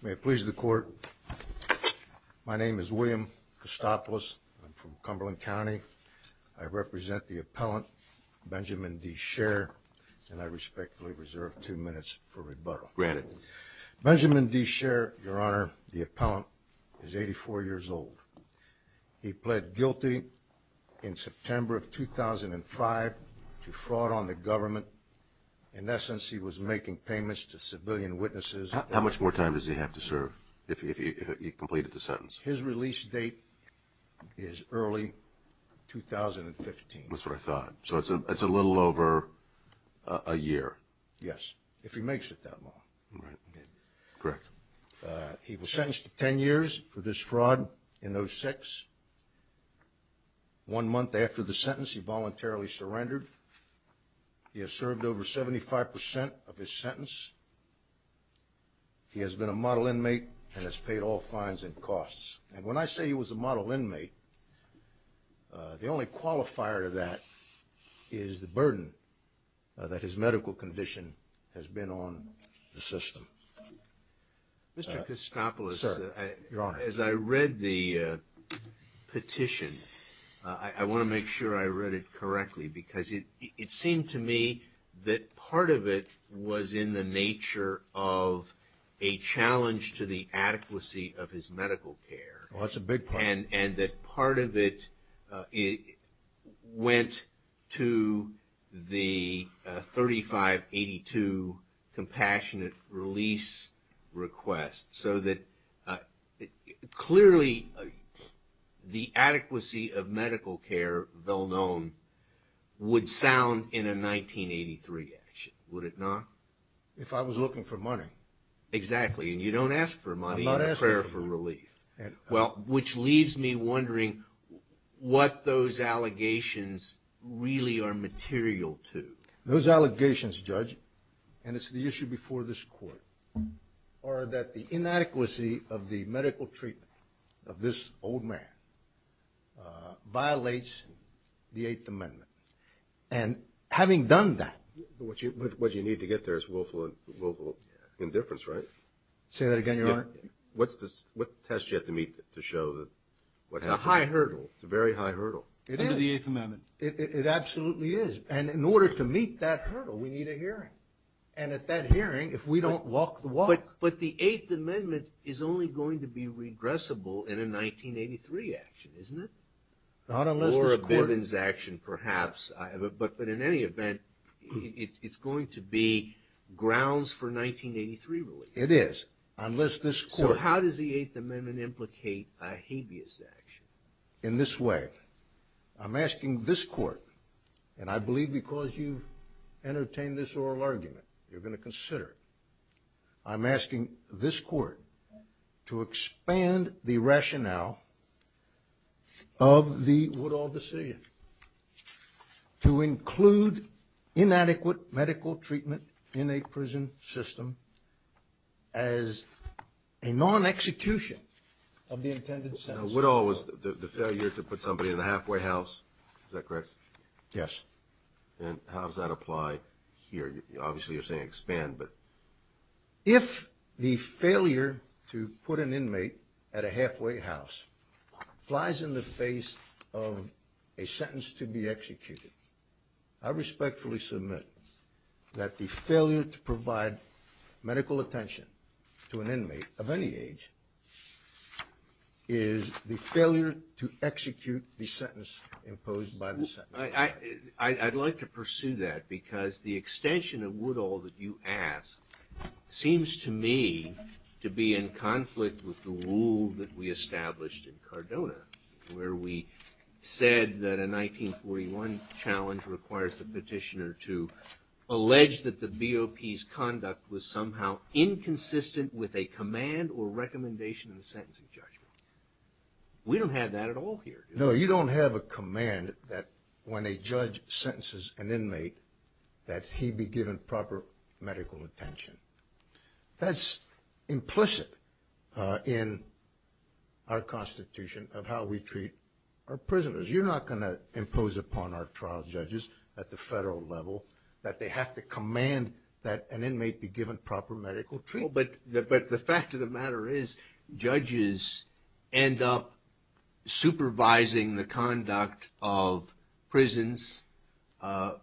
May it please the court, my name is William Costopoulos. I'm from Cumberland County. I represent the appellant, Benjamin D. Scherr, and I respectfully reserve two minutes for rebuttal. Benjamin D. Scherr, Your Honor, the appellant is 84 years old. He pled guilty in September of 2005 to fraud on the government. In essence, he was making payments to civilian witnesses. How much more time does he have to serve if he completed the sentence? His release date is early 2015. That's what I thought. So it's a little over a year. Yes, if he makes it that long. Correct. He was sentenced to 10 years for this fraud in those six. One month after the sentence, he voluntarily surrendered. He has served over 75% of his sentence. He has been a model inmate and has paid all fines and costs. And when I say he was a model inmate, the only qualifier to that is the burden that his medical condition has been on the system. Mr. Costopoulos, as I read the petition, I want to make sure I read it correctly because it seemed to me that part of it was in the nature of a challenge to the adequacy of his medical care. That's a big part. And that part of it went to the 3582 compassionate release request so that clearly the adequacy of medical care, well known, would sound in a 1983 action, would it not? If I was looking for money. Exactly. And you don't ask for money in a prayer for relief. Well, which leaves me wondering what those allegations really are material to. Those allegations, Judge, and it's the issue before this court, are that the inadequacy of the medical treatment of this old man violates the Eighth Amendment. And having done that. What you need to get there is willful indifference, right? Say that again, Your Honor. What test do you have to meet to show that? It's a high hurdle. It's a very high hurdle. It is. Under the Eighth Amendment. It absolutely is. And in order to meet that hurdle, we need a hearing. And at that hearing, if we don't walk the walk. But the Eighth Amendment is only going to be regressible in a 1983 action, isn't it? Not unless this court. Or a Bivens action, perhaps. But in any event, it's going to be grounds for 1983 relief. It is. Unless this court. So how does the Eighth Amendment implicate a habeas action? In this way. I'm asking this court, and I believe because you've entertained this oral argument, you're going to consider it. I'm asking this court to expand the rationale of the Woodall decision to include inadequate medical treatment in a prison system as a non-execution of the intended sentence. Now, Woodall was the failure to put somebody in a halfway house. Is that correct? Yes. And how does that apply here? Obviously, you're saying expand, but. If the failure to put an inmate at a halfway house flies in the face of a sentence to be executed, I respectfully submit that the failure to provide medical attention to an inmate of any age is the failure to execute the sentence imposed by the sentence. I'd like to pursue that, because the extension of Woodall that you ask seems to me to be in conflict with the rule that we established in Cardona, where we said that a 1941 challenge requires the petitioner to allege that the BOP's conduct was somehow inconsistent with a command or recommendation in the sentencing judgment. We don't have that at all here. No, you don't have a command that when a judge sentences an inmate that he be given proper medical attention. That's implicit in our constitution of how we treat our prisoners. You're not going to impose upon our trial judges at the federal level that they have to command that an inmate be given proper medical treatment. Well, but the fact of the matter is judges end up supervising the conduct of prisons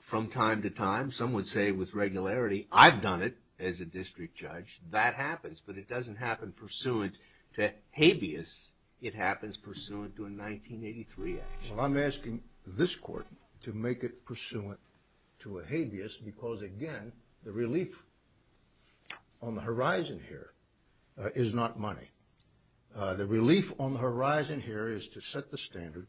from time to time. Some would say with regularity, I've done it as a district judge. That happens, but it doesn't happen pursuant to habeas. It happens pursuant to a 1983 act. Well, I'm asking this court to make it pursuant to a habeas, because again, the relief on the horizon here is not money. The relief on the horizon here is to set the standard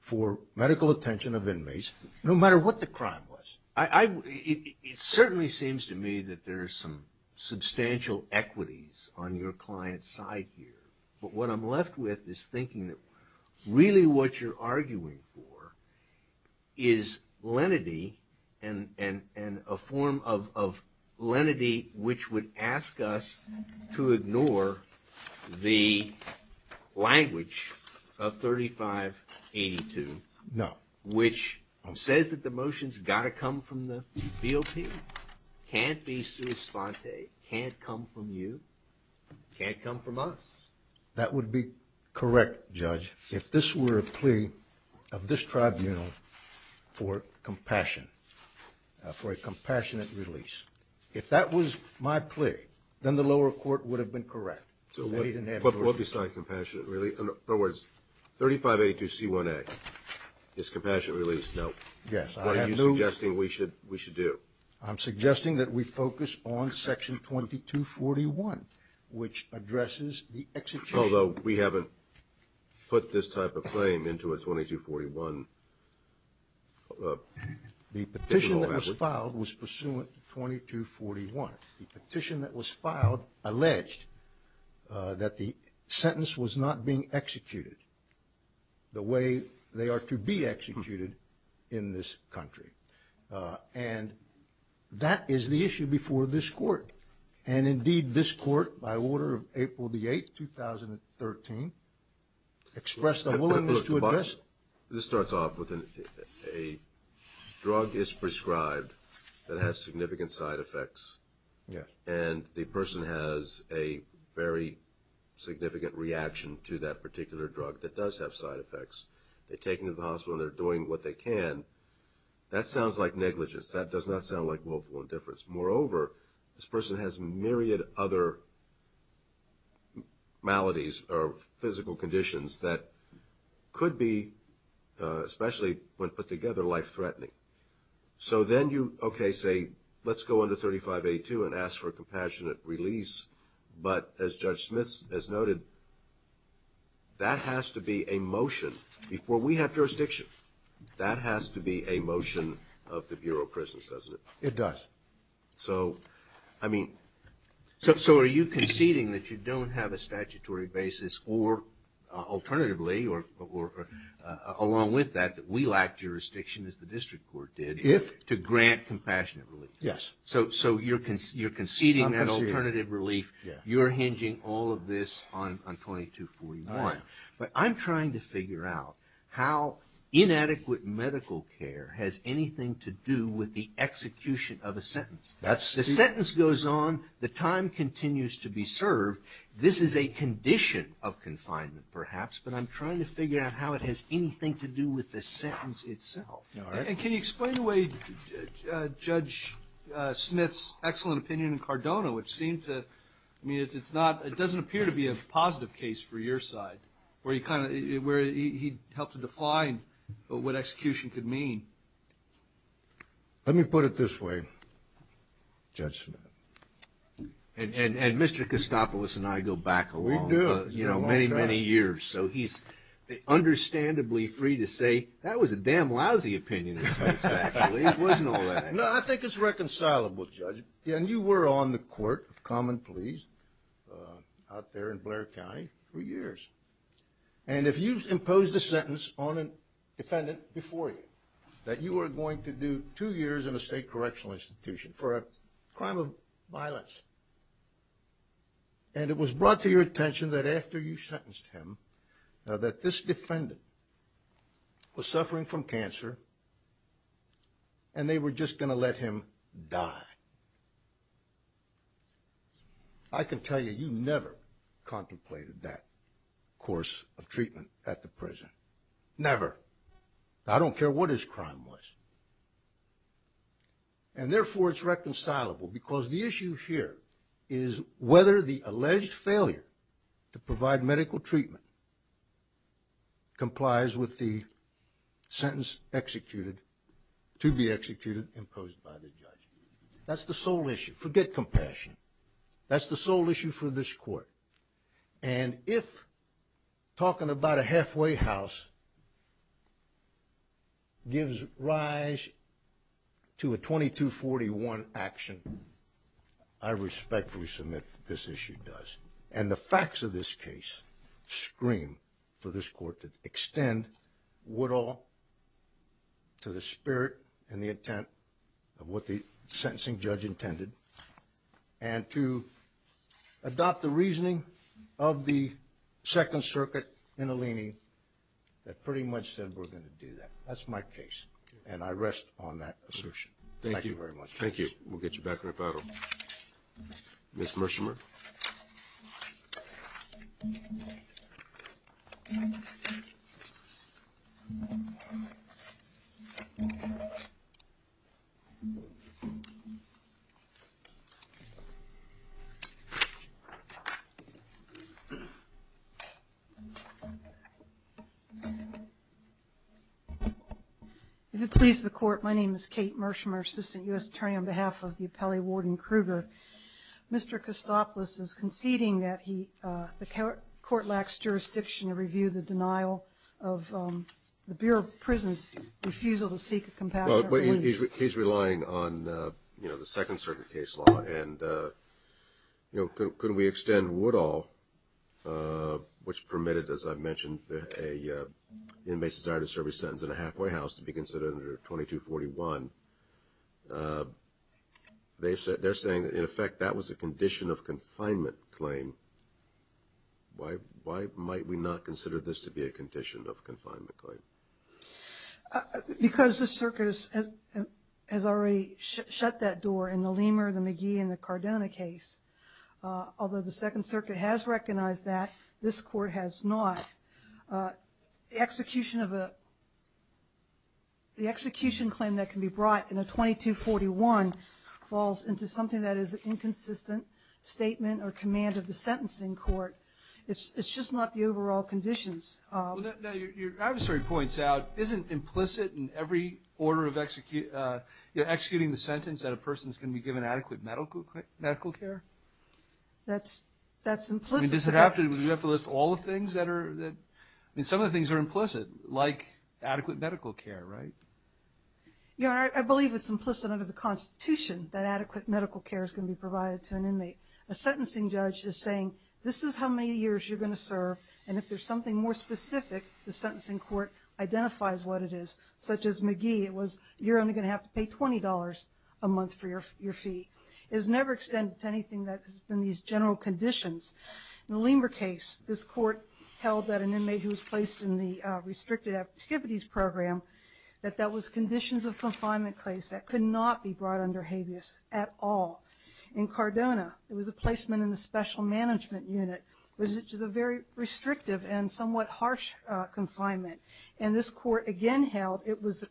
for medical attention of inmates, no matter what the crime was. It certainly seems to me that there's some substantial equities on your client's side here. But what I'm left with is thinking that really what you're arguing for is lenity and a form of lenity which would ask us to ignore the language of 3582. No. Which says that the motion's got to come from the BOP. Can't be sui sponte. Can't come from you. Can't come from us. That would be correct, Judge, if this were a plea of this tribunal for compassion, for a compassionate release. If that was my plea, then the lower court would have been correct. But what besides compassionate release? In other words, 3582C1A is compassionate release. Now, what are you suggesting we should do? I'm suggesting that we focus on section 2241, which addresses the execution. Although we haven't put this type of claim into a 2241. The petition that was filed was pursuant to 2241. The petition that was filed alleged that the sentence was not being executed the way they are to be executed in this country. And that is the issue before this court. And, indeed, this court, by order of April the 8th, 2013, expressed a willingness to address. This starts off with a drug is prescribed that has significant side effects. And the person has a very significant reaction to that particular drug that does have side effects. They're taken to the hospital and they're doing what they can. That sounds like negligence. That does not sound like willful indifference. Moreover, this person has myriad other maladies or physical conditions that could be, especially when put together, life-threatening. So then you, okay, say, let's go under 3582 and ask for compassionate release. But, as Judge Smith has noted, that has to be a motion before we have jurisdiction. That has to be a motion of the Bureau of Prisons, doesn't it? It does. So, I mean, so are you conceding that you don't have a statutory basis or, alternatively, or along with that, that we lack jurisdiction, as the district court did, to grant compassionate relief? Yes. So you're conceding that alternative relief. You're hinging all of this on 2241. But I'm trying to figure out how inadequate medical care has anything to do with the execution of a sentence. The sentence goes on. The time continues to be served. This is a condition of confinement, perhaps. But I'm trying to figure out how it has anything to do with the sentence itself. And can you explain away Judge Smith's excellent opinion in Cardona, which seemed to, I mean, it's not, it doesn't appear to be a positive case for your side, where he kind of, where he helped to define what execution could mean. Let me put it this way, Judge Smith. And Mr. Kostopoulos and I go back a long time. We do. You know, many, many years. So he's understandably free to say, that was a damn lousy opinion of his, actually. It wasn't all that. No, I think it's reconcilable, Judge. And you were on the court of common pleas out there in Blair County for years. And if you've imposed a sentence on a defendant before you, that you are going to do two years in a state correctional institution for a crime of violence. And it was brought to your attention that after you sentenced him, that this defendant was suffering from cancer. And they were just going to let him die. I can tell you, you never contemplated that course of treatment at the prison. Never. I don't care what his crime was. And therefore, it's reconcilable. Because the issue here is whether the alleged failure to provide medical treatment complies with the sentence executed, to be executed, imposed by the judge. That's the sole issue. Forget compassion. That's the sole issue for this court. And if talking about a halfway house gives rise to a 2241 action, I respectfully submit that this issue does. And the facts of this case scream for this court to extend Woodall to the spirit and the intent of what the sentencing judge intended. And to adopt the reasoning of the Second Circuit in Alini that pretty much said we're going to do that. That's my case. And I rest on that assertion. Thank you very much. Thank you. We'll get you back in the battle. Ms. Mershmer. If it pleases the Court, my name is Kate Mershmer, Assistant U.S. Attorney on behalf of the appellee, Warden Krueger. Mr. Kostopoulos is conceding that the court lacks jurisdiction to review the denial of the Bureau of Prisons' refusal to seek a compassionate release. He's relying on, you know, the Second Circuit case law. And, you know, could we extend Woodall, which permitted, as I've mentioned, an inmate's desire to serve his sentence in a halfway house to be considered under 2241? They're saying that, in effect, that was a condition of confinement claim. Why might we not consider this to be a condition of confinement claim? Because the circuit has already shut that door in the Lehmer, the McGee, and the Cardona case. Although the Second Circuit has recognized that, this Court has not. The execution claim that can be brought in a 2241 falls into something that is an inconsistent statement or command of the sentencing court. It's just not the overall conditions. Well, now, your adversary points out, isn't implicit in every order of executing the sentence that a person's going to be given adequate medical care? That's implicit. I mean, does it have to – do we have to list all the things that are – I mean, some of the things are implicit, like adequate medical care, right? Yeah, I believe it's implicit under the Constitution that adequate medical care is going to be provided to an inmate. A sentencing judge is saying, this is how many years you're going to serve. And if there's something more specific, the sentencing court identifies what it is, such as McGee. It was, you're only going to have to pay $20 a month for your fee. It was never extended to anything that has been these general conditions. In the Lehmer case, this Court held that an inmate who was placed in the restricted activities program, that that was conditions of confinement claims that could not be brought under habeas at all. In Cardona, it was a placement in the special management unit, which is a very restrictive and somewhat harsh confinement. And this Court again held it was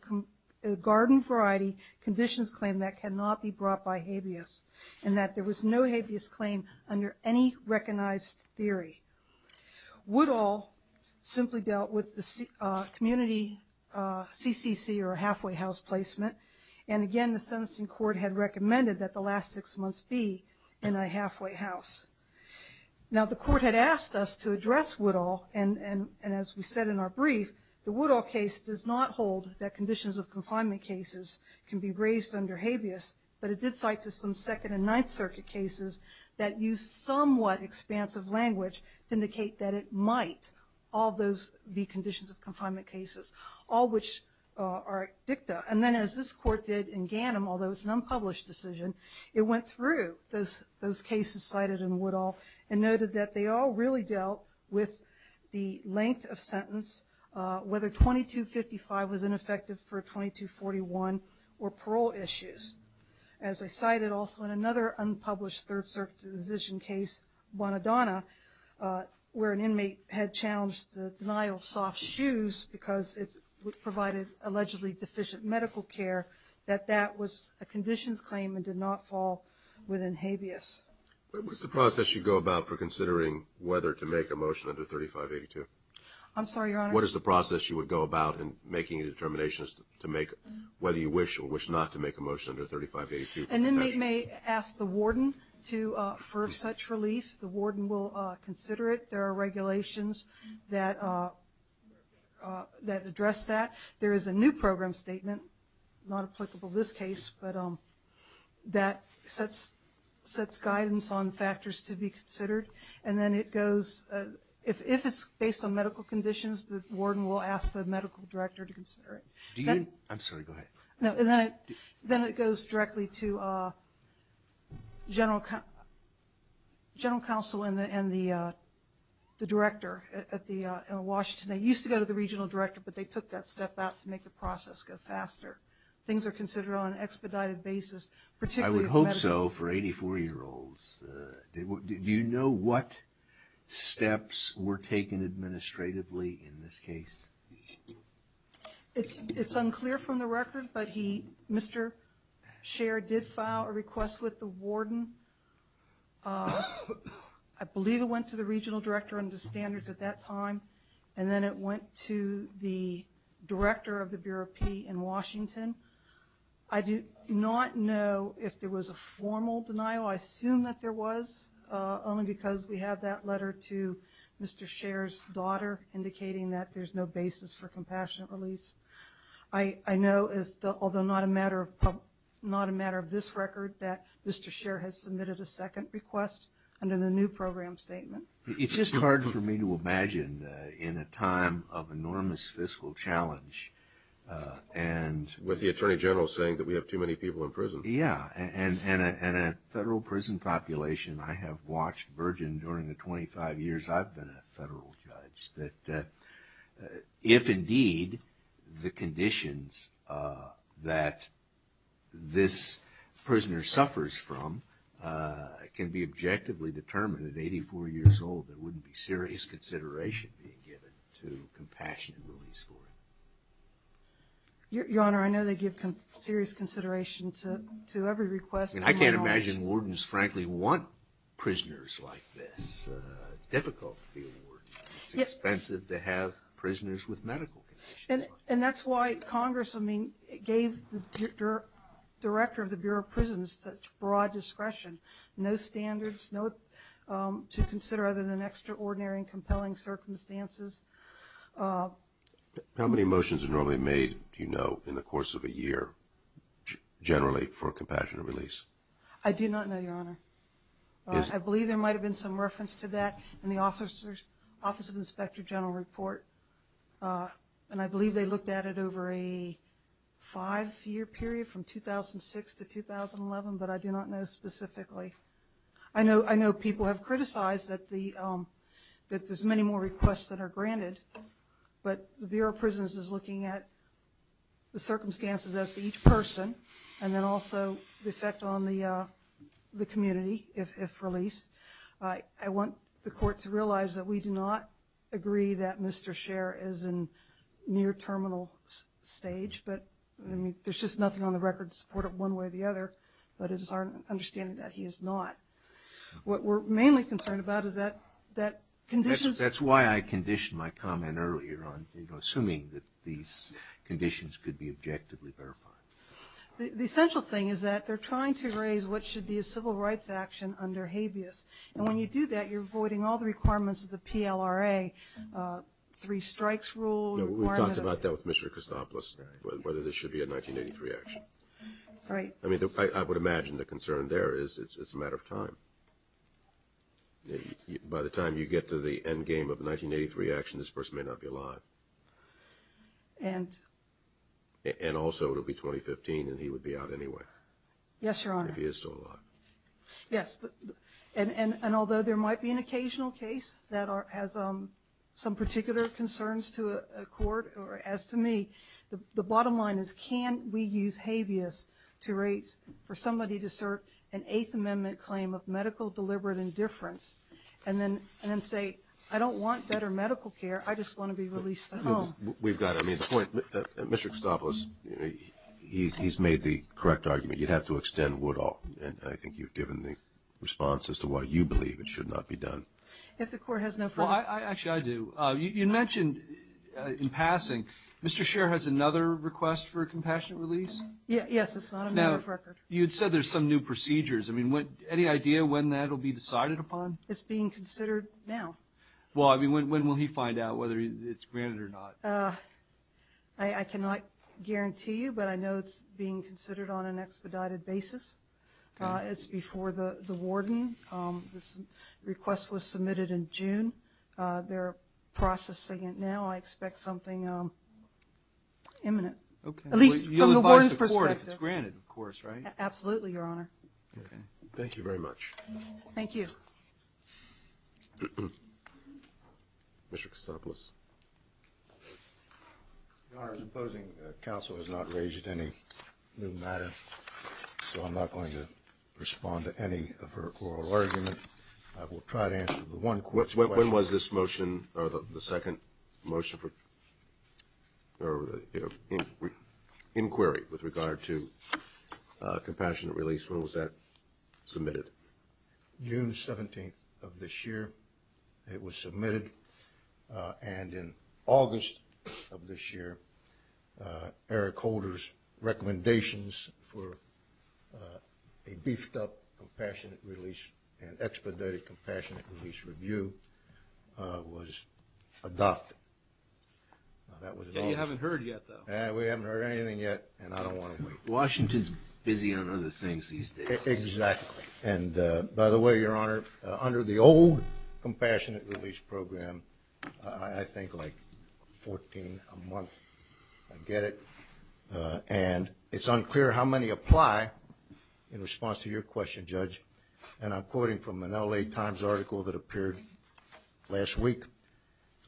a garden variety conditions claim that cannot be brought by habeas, and that there was no habeas claim under any recognized theory. Woodall simply dealt with the community CCC, or halfway house placement. And again, the sentencing court had recommended that the last six months be in a halfway house. Now the Court had asked us to address Woodall, and as we said in our brief, the Woodall case does not hold that conditions of confinement cases can be raised under habeas, but it did cite to some Second and Ninth Circuit cases that use somewhat expansive language to indicate that it might, all those be conditions of confinement cases, all which are dicta. And then as this Court did in Ganim, although it's an unpublished decision, it went through those cases cited in Woodall and noted that they all really dealt with the length of sentence, whether 2255 was ineffective for 2241 or parole issues. As I cited also in another unpublished Third Circuit decision case, Bonadonna, where an inmate had challenged the denial of soft shoes because it provided allegedly deficient medical care, that that was a conditions claim and did not fall within habeas. What is the process you go about for considering whether to make a motion under 3582? I'm sorry, Your Honor? What is the process you would go about in making determinations to make whether you wish or wish not to make a motion under 3582? An inmate may ask the warden for such relief. The warden will consider it. There are regulations that address that. There is a new program statement, not applicable in this case, but that sets guidance on factors to be considered. And then it goes, if it's based on medical conditions, the warden will ask the medical director to consider it. Do you? I'm sorry, go ahead. Then it goes directly to general counsel and the director in Washington. They used to go to the regional director, but they took that step out to make the process go faster. Things are considered on an expedited basis, particularly medical. I would hope so for 84-year-olds. Do you know what steps were taken administratively in this case? It's unclear from the record, but Mr. Scher did file a request with the warden. I believe it went to the regional director under standards at that time, and then it went to the director of the Bureau of P in Washington. I do not know if there was a formal denial. I assume that there was, indicating that there's no basis for compassionate release. I know, although not a matter of this record, that Mr. Scher has submitted a second request under the new program statement. It's just hard for me to imagine in a time of enormous fiscal challenge. With the attorney general saying that we have too many people in prison. Yeah, and a federal prison population. I have watched Virgin during the 25 years I've been a federal judge, that if indeed the conditions that this prisoner suffers from can be objectively determined at 84 years old, there wouldn't be serious consideration being given to compassionate release for him. Your Honor, I know they give serious consideration to every request. I can't imagine wardens frankly want prisoners like this. It's difficult to be a warden. It's expensive to have prisoners with medical conditions. And that's why Congress gave the director of the Bureau of Prisons such broad discretion. No standards to consider other than extraordinary and compelling circumstances. How many motions are normally made, do you know, in the course of a year generally for compassionate release? I do not know, Your Honor. I believe there might have been some reference to that in the Office of Inspector General report. And I believe they looked at it over a five-year period from 2006 to 2011, but I do not know specifically. I know people have criticized that there's many more requests that are granted, but the Bureau of Prisons is looking at the circumstances as to each person and then also the effect on the community if released. I want the court to realize that we do not agree that Mr. Scher is in near terminal stage, but there's just nothing on the record to support it one way or the other, but it is our understanding that he is not. What we're mainly concerned about is that conditions. That's why I conditioned my comment earlier on, you know, assuming that these conditions could be objectively verified. The essential thing is that they're trying to raise what should be a civil rights action under habeas, and when you do that, you're avoiding all the requirements of the PLRA, three strikes rule. We've talked about that with Mr. Christopoulos, whether this should be a 1983 action. Right. I mean, I would imagine the concern there is it's a matter of time. By the time you get to the end game of the 1983 action, this person may not be alive. And also it'll be 2015 and he would be out anyway. Yes, Your Honor. If he is still alive. Yes, and although there might be an occasional case that has some particular concerns to a court, or as to me, the bottom line is can we use habeas to raise for somebody to assert an Eighth Amendment claim of medical deliberate indifference and then say, I don't want better medical care. I just want to be released at home. We've got it. I mean, the point, Mr. Christopoulos, he's made the correct argument. You'd have to extend Woodall, and I think you've given the response as to why you believe it should not be done. If the court has no further. Actually, I do. You mentioned in passing, Mr. Scherr has another request for a compassionate release? Yes, it's not a matter of record. Now, you had said there's some new procedures. I mean, any idea when that will be decided upon? It's being considered now. Well, I mean, when will he find out whether it's granted or not? I cannot guarantee you, but I know it's being considered on an expedited basis. It's before the warden. This request was submitted in June. They're processing it now. I expect something imminent, at least from the warden's perspective. You'll advise the court if it's granted, of course, right? Absolutely, Your Honor. Okay. Thank you very much. Thank you. Mr. Kasopoulos. Your Honor, the opposing counsel has not raised any new matter, so I'm not going to respond to any of her oral argument. I will try to answer the one question. When was this motion or the second motion for inquiry with regard to compassionate release? When was that submitted? June 17th of this year it was submitted. And in August of this year, Eric Holder's recommendations for a beefed-up compassionate release and expedited compassionate release review was adopted. You haven't heard yet, though. We haven't heard anything yet, and I don't want to wait. Washington's busy on other things these days. Exactly. And, by the way, Your Honor, under the old compassionate release program, I think like 14 a month, I get it, and it's unclear how many apply in response to your question, Judge, and I'm quoting from an LA Times article that appeared last week.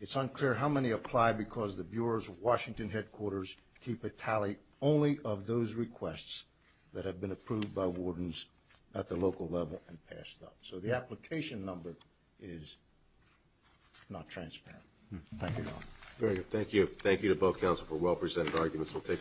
It's unclear how many apply because the Bureau's Washington headquarters keep a tally only of those requests that have been approved by wardens at the local level and passed up. So the application number is not transparent. Thank you, Your Honor. Very good. Thank you. Thank you to both counsel for well-presented arguments.